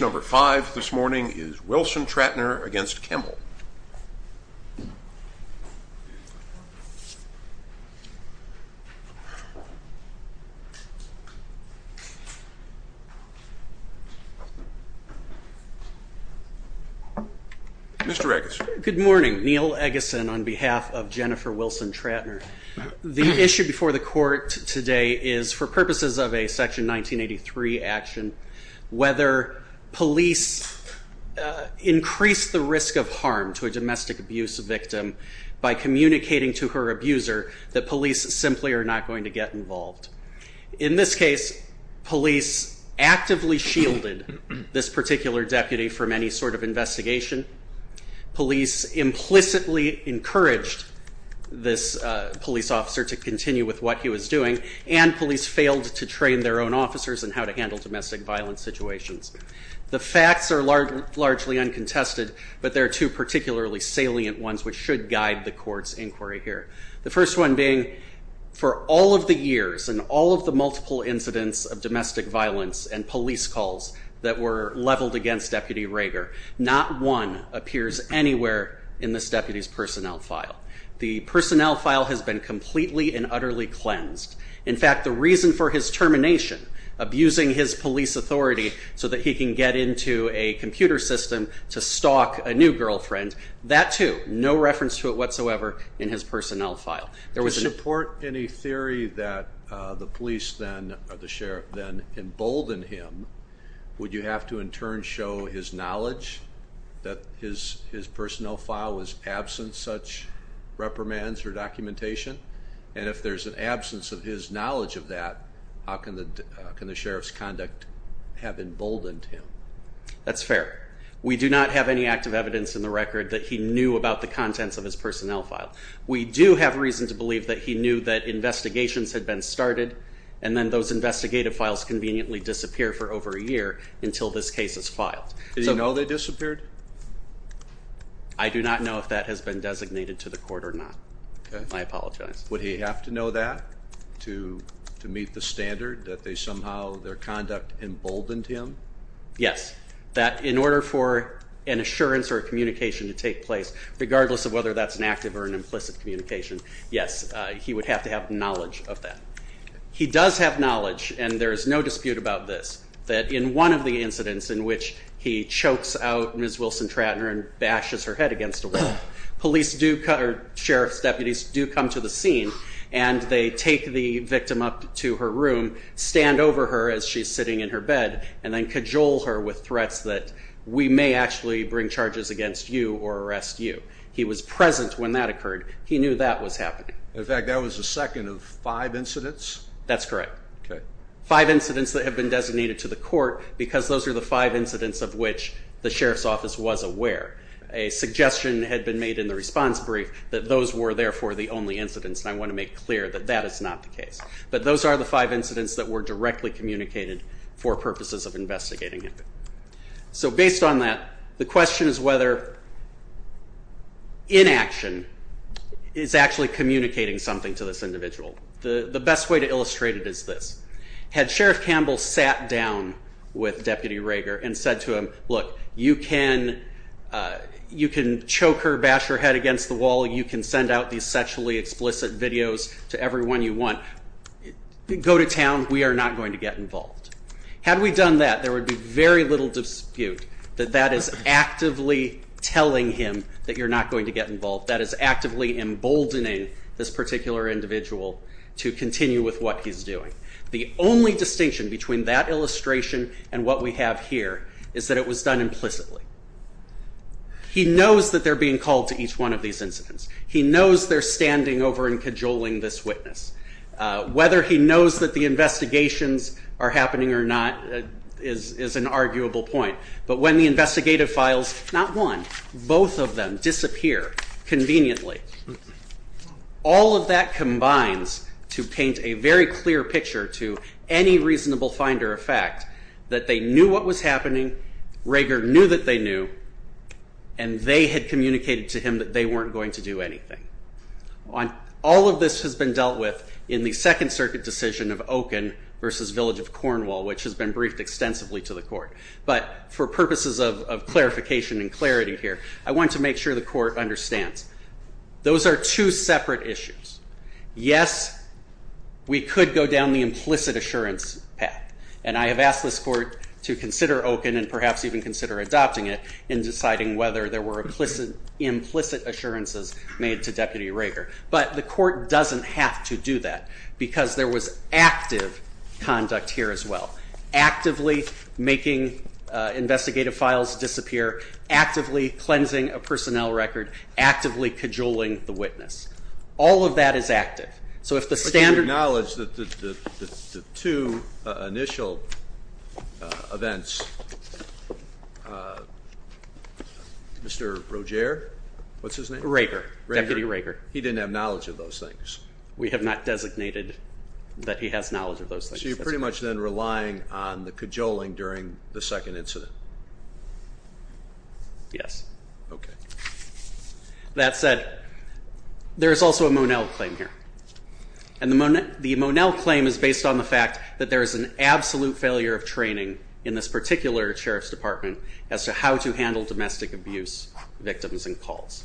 Number five this morning is Wilson-Trattner v. Campbell. Mr. Eggerson. Good morning. Neil Eggerson on behalf of Jennifer Wilson-Trattner. The issue before the court today is for purposes of a Section 1983 action whether police increase the risk of harm to a domestic abuse victim by communicating to her abuser that police simply are not going to get involved. In this case police actively shielded this particular deputy from any sort of investigation. Police implicitly encouraged this police officer to continue with what he was doing and police failed to train their own The facts are largely uncontested but there are two particularly salient ones which should guide the court's inquiry here. The first one being for all of the years and all of the multiple incidents of domestic violence and police calls that were leveled against Deputy Rager not one appears anywhere in this deputy's personnel file. The personnel file has been completely and utterly can get into a computer system to stalk a new girlfriend. That too no reference to it whatsoever in his personnel file. To support any theory that the police then or the sheriff then emboldened him would you have to in turn show his knowledge that his his personnel file was absent such reprimands or documentation and if there's an absence of his knowledge of that how can the sheriff's conduct have emboldened him? That's fair. We do not have any active evidence in the record that he knew about the contents of his personnel file. We do have reason to believe that he knew that investigations had been started and then those investigative files conveniently disappear for over a year until this case is filed. Did you know they disappeared? I do not know if that has been designated to the court or not. I apologize. Would he have to know that to meet the standard that they somehow their conduct emboldened him? Yes. That in order for an assurance or a communication to take place regardless of whether that's an active or an implicit communication yes he would have to have knowledge of that. He does have knowledge and there is no dispute about this that in one of the incidents in which he chokes out Ms. Wilson-Tratner and bashes her head against a wall police do or sheriff's deputies do come to the scene and they take the victim up to her room stand over her as she's sitting in her bed and then cajole her with threats that we may actually bring charges against you or arrest you. He was present when that occurred. He knew that was happening. In fact that was the second of five incidents? That's correct. Five incidents that have been designated to the court because those are the five incidents of which the sheriff's office was aware. A suggestion had been made in the response brief that those were therefore the only incidents and I want to make clear that that is not the case. But those are the five incidents that were directly communicated for purposes of investigating him. So based on that the question is whether inaction is actually communicating something to this individual. The best way to illustrate it is this. Had Sheriff Campbell sat down with Deputy Rager and said to him look you can you can choke her, bash her head against the wall, you can send out these sexually explicit videos to everyone you want. Go to town. We are not going to get involved. Had we done that there would be very little dispute that that is actively telling him that you're not going to get involved. That is actively emboldening this particular individual to continue with what he's doing. The only distinction between that illustration and what we have here is that it was done implicitly. He knows that they're being called to each one of these incidents. He knows they're standing over and cajoling this witness. Whether he knows that the investigations are happening or not is an arguable point. But when the investigative files, not one, both of them disappear conveniently. All of that combines to paint a very clear picture to any reasonable finder of fact that they knew what was indicated to him that they weren't going to do anything. All of this has been dealt with in the Second Circuit decision of Okun versus Village of Cornwall which has been briefed extensively to the court. But for purposes of clarification and clarity here I want to make sure the court understands. Those are two separate issues. Yes we could go down the implicit assurance path and I have asked this court to consider Okun and perhaps even consider adopting it in deciding whether there were implicit assurances made to Deputy Rager. But the court doesn't have to do that because there was active conduct here as well. Actively making investigative files disappear, actively cleansing a personnel record, actively cajoling the witness. All of that is Mr. Roger? What's his name? Rager. Deputy Rager. He didn't have knowledge of those things. We have not designated that he has knowledge of those things. So you're pretty much then relying on the cajoling during the second incident. Yes. Okay. That said, there is also a Monell claim here. And the Monell claim is based on the fact that there is an absolute failure of training in this particular Sheriff's Department as to how to handle domestic abuse victims and calls.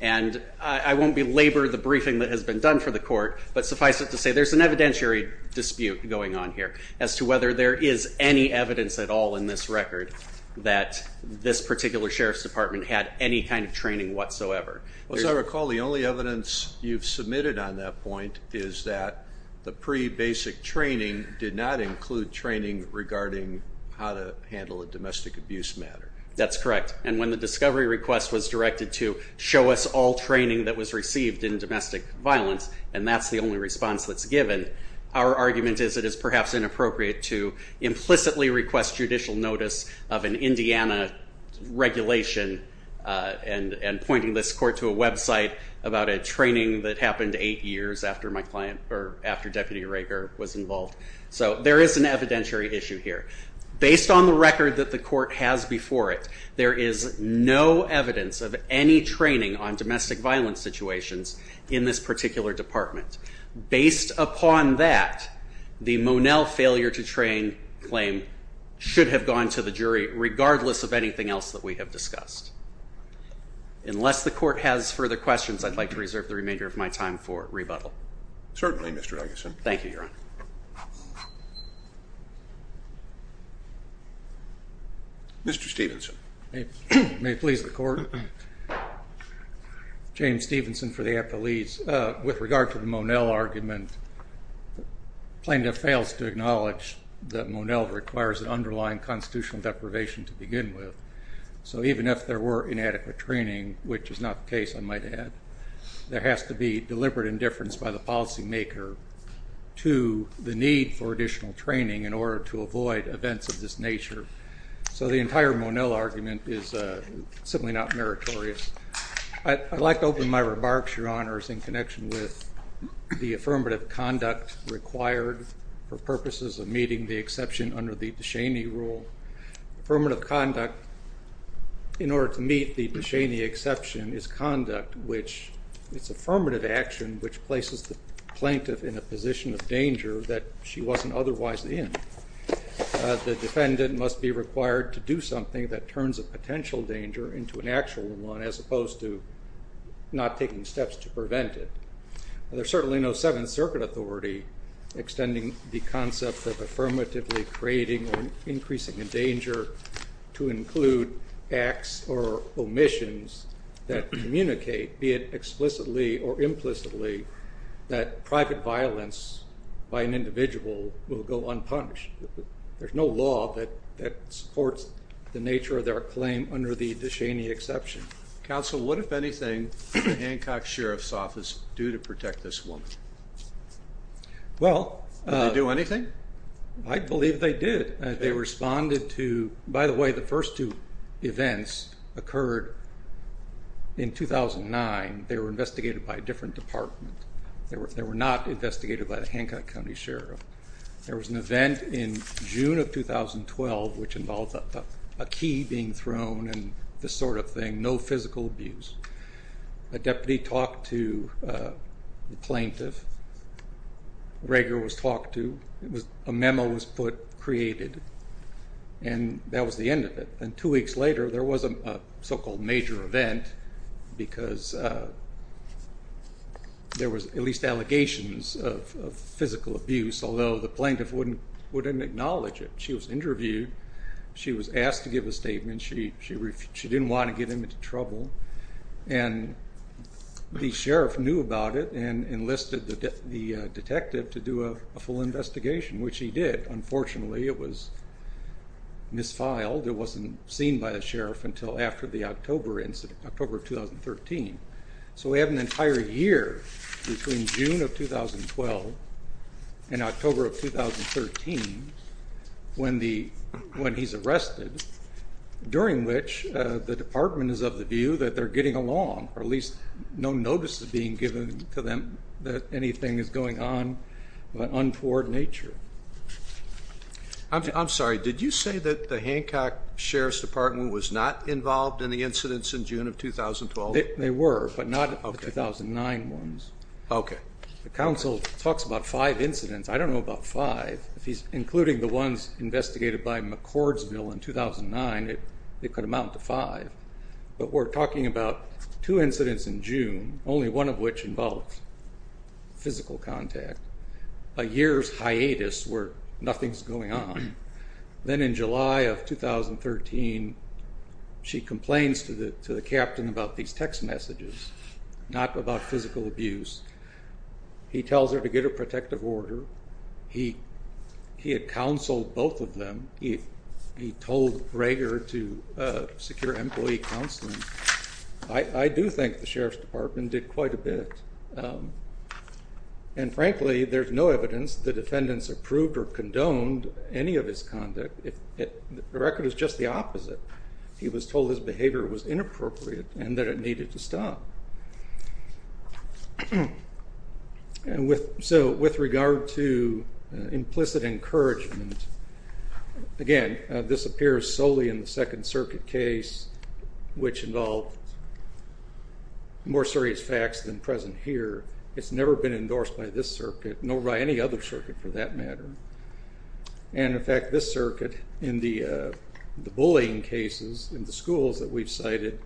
And I won't belabor the briefing that has been done for the court, but suffice it to say there's an evidentiary dispute going on here as to whether there is any evidence at all in this record that this particular Sheriff's Department had any kind of training whatsoever. As I recall the only evidence you've submitted on that point is that the pre-basic training did not include training regarding how to handle a domestic abuse matter. That's correct. And when the discovery request was directed to show us all training that was received in domestic violence, and that's the only response that's given, our argument is it is perhaps inappropriate to implicitly request judicial notice of an Indiana regulation and pointing this court to a website about a training that happened eight years after my client, or after Deputy Rager, was involved. So there is an evidentiary issue here. Based on the record that the court has before it, there is no evidence of any training on domestic violence situations in this particular department. Based upon that, the Monell failure to train claim should have gone to the jury regardless of anything else that we have discussed. Unless the court has further questions, I'd like to hear them. Mr. Stephenson. May it please the court. James Stephenson for the Appellees. With regard to the Monell argument, plaintiff fails to acknowledge that Monell requires an underlying constitutional deprivation to begin with. So even if there were inadequate training, which is not the case I might add, there has to be deliberate indifference by the policymaker to the need for additional training in order to avoid events of this nature. So the entire Monell argument is simply not meritorious. I'd like to open my remarks, Your Honors, in connection with the affirmative conduct required for purposes of meeting the exception under the Descheny rule. Affirmative conduct, in order to meet the Descheny exception, is conduct which is affirmative action which places the plaintiff in a position of danger that she wasn't otherwise in. The defendant must be required to do something that turns a potential danger into an actual one as opposed to not taking steps to prevent it. There's certainly no Seventh Circuit authority extending the concept of affirmatively creating or increasing a danger to include acts or omissions that communicate, be it explicitly or implicitly, that private violence by an individual will go unpunished. There's no law that supports the nature of their claim under the Descheny exception. Counsel, what if anything did the Hancock Sheriff's Office do to protect this woman? Well... Did they do anything? I believe they did. They responded to... By the way, the first two events occurred in 2009. They were investigated by a different department. They were not investigated by the Hancock County Sheriff. There was an event in June of 2012 which involved a key being thrown and this sort of thing. No plaintiff was talked to. A memo was put, created, and that was the end of it. Two weeks later, there was a so-called major event because there was at least allegations of physical abuse, although the plaintiff wouldn't acknowledge it. She was interviewed. She was asked to give a statement. She didn't want to get him into trouble. The sheriff knew about it and enlisted the detective to do a full investigation, which he did. Unfortunately, it was misfiled. It wasn't seen by the sheriff until after the October of 2013. So we have an entire year between June of 2012 and October of 2013 when he's arrested, during which the department is of the view that they're getting along, or at least no notice is being given to them that anything is going on of an untoward nature. I'm sorry. Did you say that the Hancock Sheriff's Department was not involved in the incidents in June of 2012? They were, but not the 2009 ones. Okay. The council talks about five incidents. I don't know about five. If he's including the ones investigated by McCordsville in 2009, it could amount to five. But we're talking about two incidents in June, only one of which involved physical contact. A year's hiatus where nothing's going on. Then in July of 2013, she complains to the captain about these text messages, not about physical abuse. He tells her to create a protective order. He had counseled both of them. He told Rager to secure employee counseling. I do think the sheriff's department did quite a bit. And frankly, there's no evidence the defendants approved or condoned any of his conduct. The record is just the opposite. He was told his behavior was inappropriate and that it needed to stop. With regard to implicit encouragement, again, this appears solely in the Second Circuit case, which involved more serious facts than present here. It's never been endorsed by this circuit, nor by any other circuit for that matter. In fact, this circuit, in the case of McCordsville,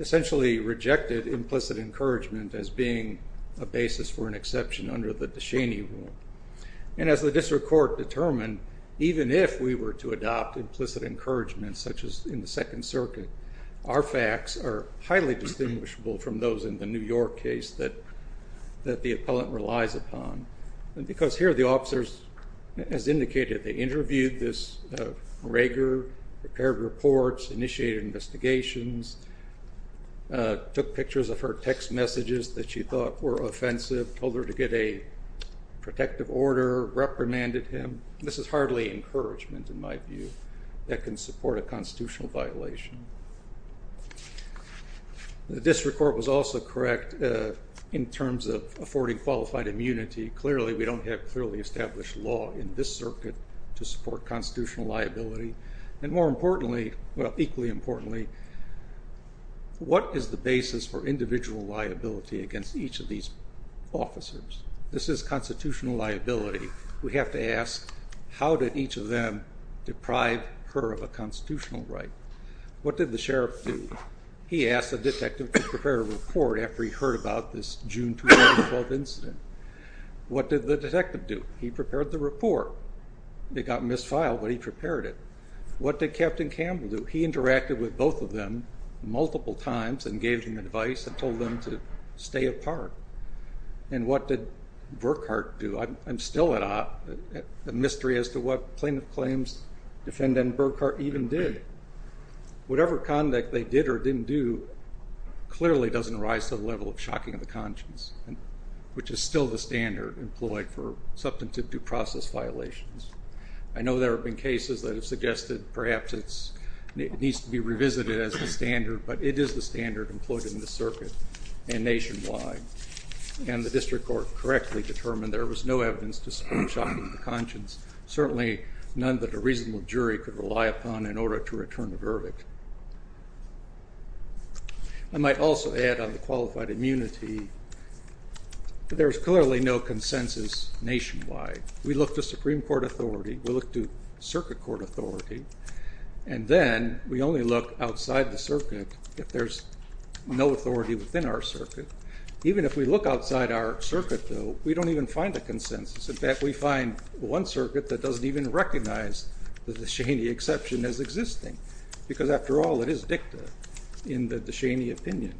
essentially rejected implicit encouragement as being a basis for an exception under the DeShaney rule. And as the district court determined, even if we were to adopt implicit encouragement, such as in the Second Circuit, our facts are highly distinguishable from those in the New York case that the appellant relies upon. Because here the officers, as indicated, they interviewed this Rager, prepared reports, initiated investigations, took pictures of her text messages that she thought were offensive, told her to get a protective order, reprimanded him. This is hardly encouragement in my view that can support a constitutional violation. The district court was also correct in terms of affording qualified immunity. Clearly, we don't have clearly established law in this circuit to support constitutional liability. And more importantly, well, equally importantly, what is the basis for individual liability against each of these officers? This is constitutional liability. We have to ask, how did each of them deprive her of a constitutional right? What did the sheriff do? He asked the detective to prepare a report after he heard about this June 2012 incident. What did the detective do? He prepared the report. It got misfiled, but he prepared it. What did Captain Campbell do? He interacted with both of them multiple times and gave them advice and told them to stay apart. And what did Burkhart do? I'm still at a mystery as to what plaintiff claims defendant Burkhart even did. Whatever conduct they did or didn't do clearly doesn't rise to the level of shocking of the conscience, which is still the standard employed for substantive due process violations. I know there have been cases that have suggested perhaps it needs to be revisited as a standard, but it is the standard employed in this circuit and nationwide. And the district court correctly determined there was no evidence to support shocking of the conscience, certainly none that a reasonable jury could rely upon in I might also add on the qualified immunity, there's clearly no consensus nationwide. We look to Supreme Court authority, we look to circuit court authority, and then we only look outside the circuit if there's no authority within our circuit. Even if we look outside our circuit, though, we don't even find a consensus. In fact, we find one circuit that doesn't even recognize the Descheny exception as existing, because after all, it is dicta in the Descheny opinion.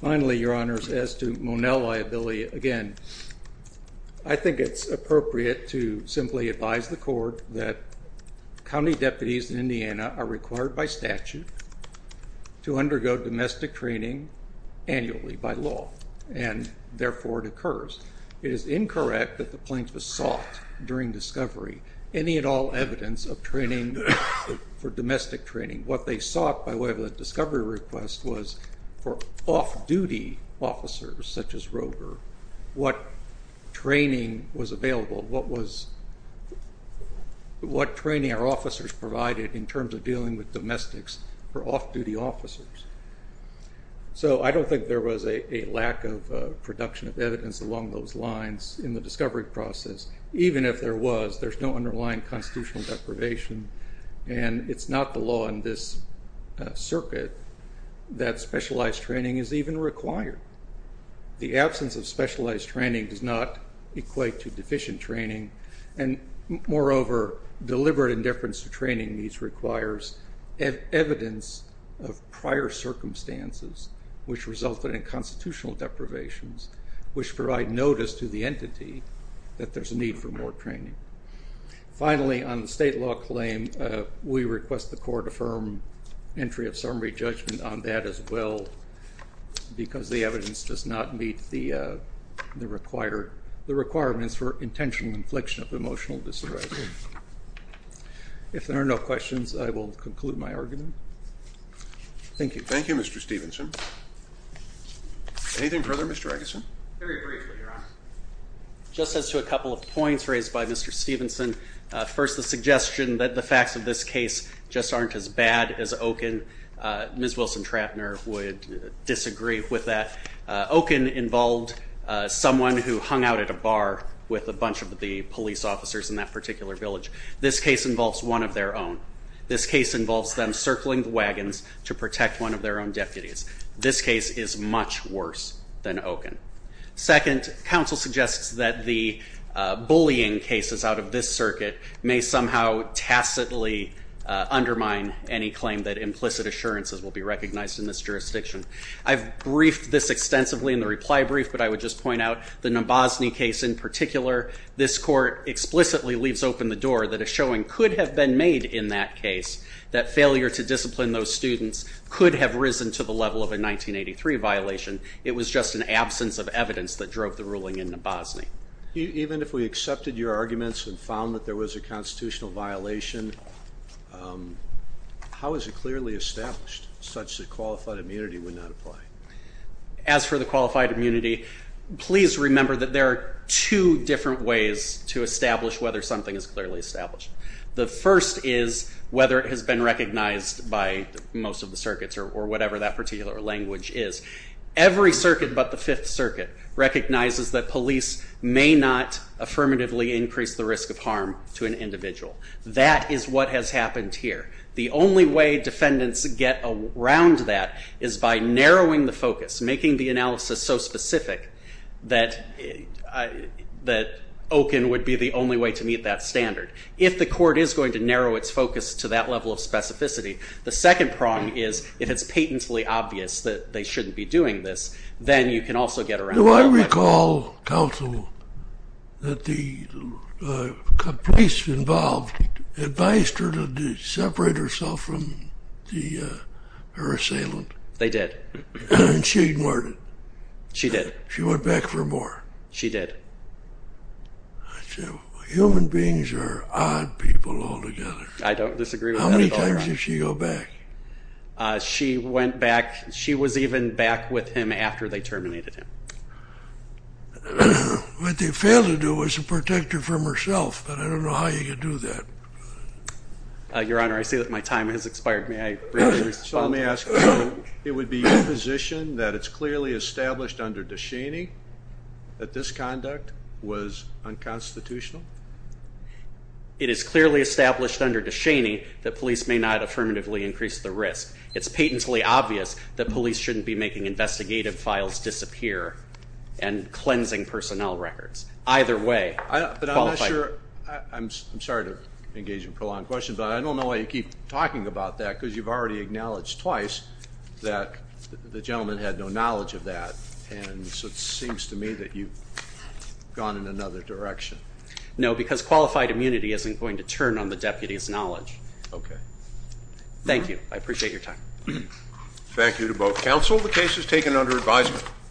Finally, Your Honors, as to Monell liability, again, I think it's appropriate to simply advise the court that county deputies in Indiana are required by It is incorrect that the planes were sought during discovery any and all evidence of training for domestic training. What they sought by way of a discovery request was for off-duty officers, such as Roger, what training was available, what training our officers provided in terms of dealing with domestics for off-duty officers. So I don't think there was a lack of production of evidence along those lines in the discovery process. Even if there was, there's no underlying constitutional deprivation, and it's not the law in this circuit that specialized training is even required. The absence of specialized training does not equate to deficient training, and moreover, deliberate indifference to training needs requires evidence of prior circumstances which resulted in constitutional deprivations, which provide notice to the entity that there's a need for more training. Finally, on the state law claim, we request the court affirm entry of summary judgment on that as well, because the evidence does not meet the requirements for intentional infliction of emotional disarray. If there are no questions, I will conclude my argument. Thank you. Thank you, Mr. Stephenson. Anything further, Mr. Eggerson? Very briefly, Your Honor. Just as to a couple of points raised by Mr. Stephenson, first the suggestion that the facts of this case just aren't as bad as Okun. Ms. Wilson-Trapner would disagree with that. Okun involved someone who hung out at a bar with a bunch of the police officers in that particular village. This case involves one of their own. This case involves them circling the wagons to protect one of their own deputies. This case is much worse than Okun. Second, counsel suggests that the bullying cases out of this circuit may somehow tacitly undermine any claim that implicit assurances will be recognized in this jurisdiction. I've briefed this extensively in the reply brief, but I would just point out the Nabozny case in particular. This court explicitly leaves open the door that a showing could have been made in that case that failure to discipline those students could have risen to the level of a 1983 violation. It was just an absence of evidence that drove the ruling in Nabozny. Even if we accepted your arguments and found that there was a constitutional violation, how is it clearly established such that qualified immunity would not apply? As for the qualified immunity, please remember that there are two different ways to establish whether something is clearly established. The first is whether it has been recognized by most of the circuits or whatever that particular language is. Every circuit but the Fifth Circuit recognizes that police may not affirmatively increase the risk of harm to an individual. That is what has happened here. The only way defendants get around that is by narrowing the focus, making the analysis so specific that Okun would be the only way to meet that standard. If the court is going to narrow its focus to that level of specificity, the second prong is if it's patently obvious that they shouldn't be doing this, then you can also get around that. Do I recall, counsel, that the police involved advised her to separate herself from her assailant? They did. And she ignored it? She did. She went back for more? She did. Human beings are odd people altogether. I don't disagree with that at all, Your Honor. How many times did she go back? She went back. She was even back with him after they terminated him. What they failed to do was to protect her from herself, but I don't know how you do that. Your Honor, I see that my time has expired. May I briefly respond? So let me ask you, it would be your position that it's clearly established under DeShaney that this conduct was unconstitutional? It is clearly established under DeShaney that police may not affirmatively increase the risk. It's patently obvious that police shouldn't be making investigative files disappear and cleansing personnel records. Either way, I'm not sure. I'm sorry to engage in prolonged questions, but I don't know why you keep talking about that, because you've already acknowledged twice that the gentleman had no knowledge of that, and so it seems to me that you've gone in another direction. No, because qualified immunity isn't going to turn on the deputy's knowledge. Okay. Thank you. I appreciate your time. Thank you to both counsel. The case is adjourned under advisement.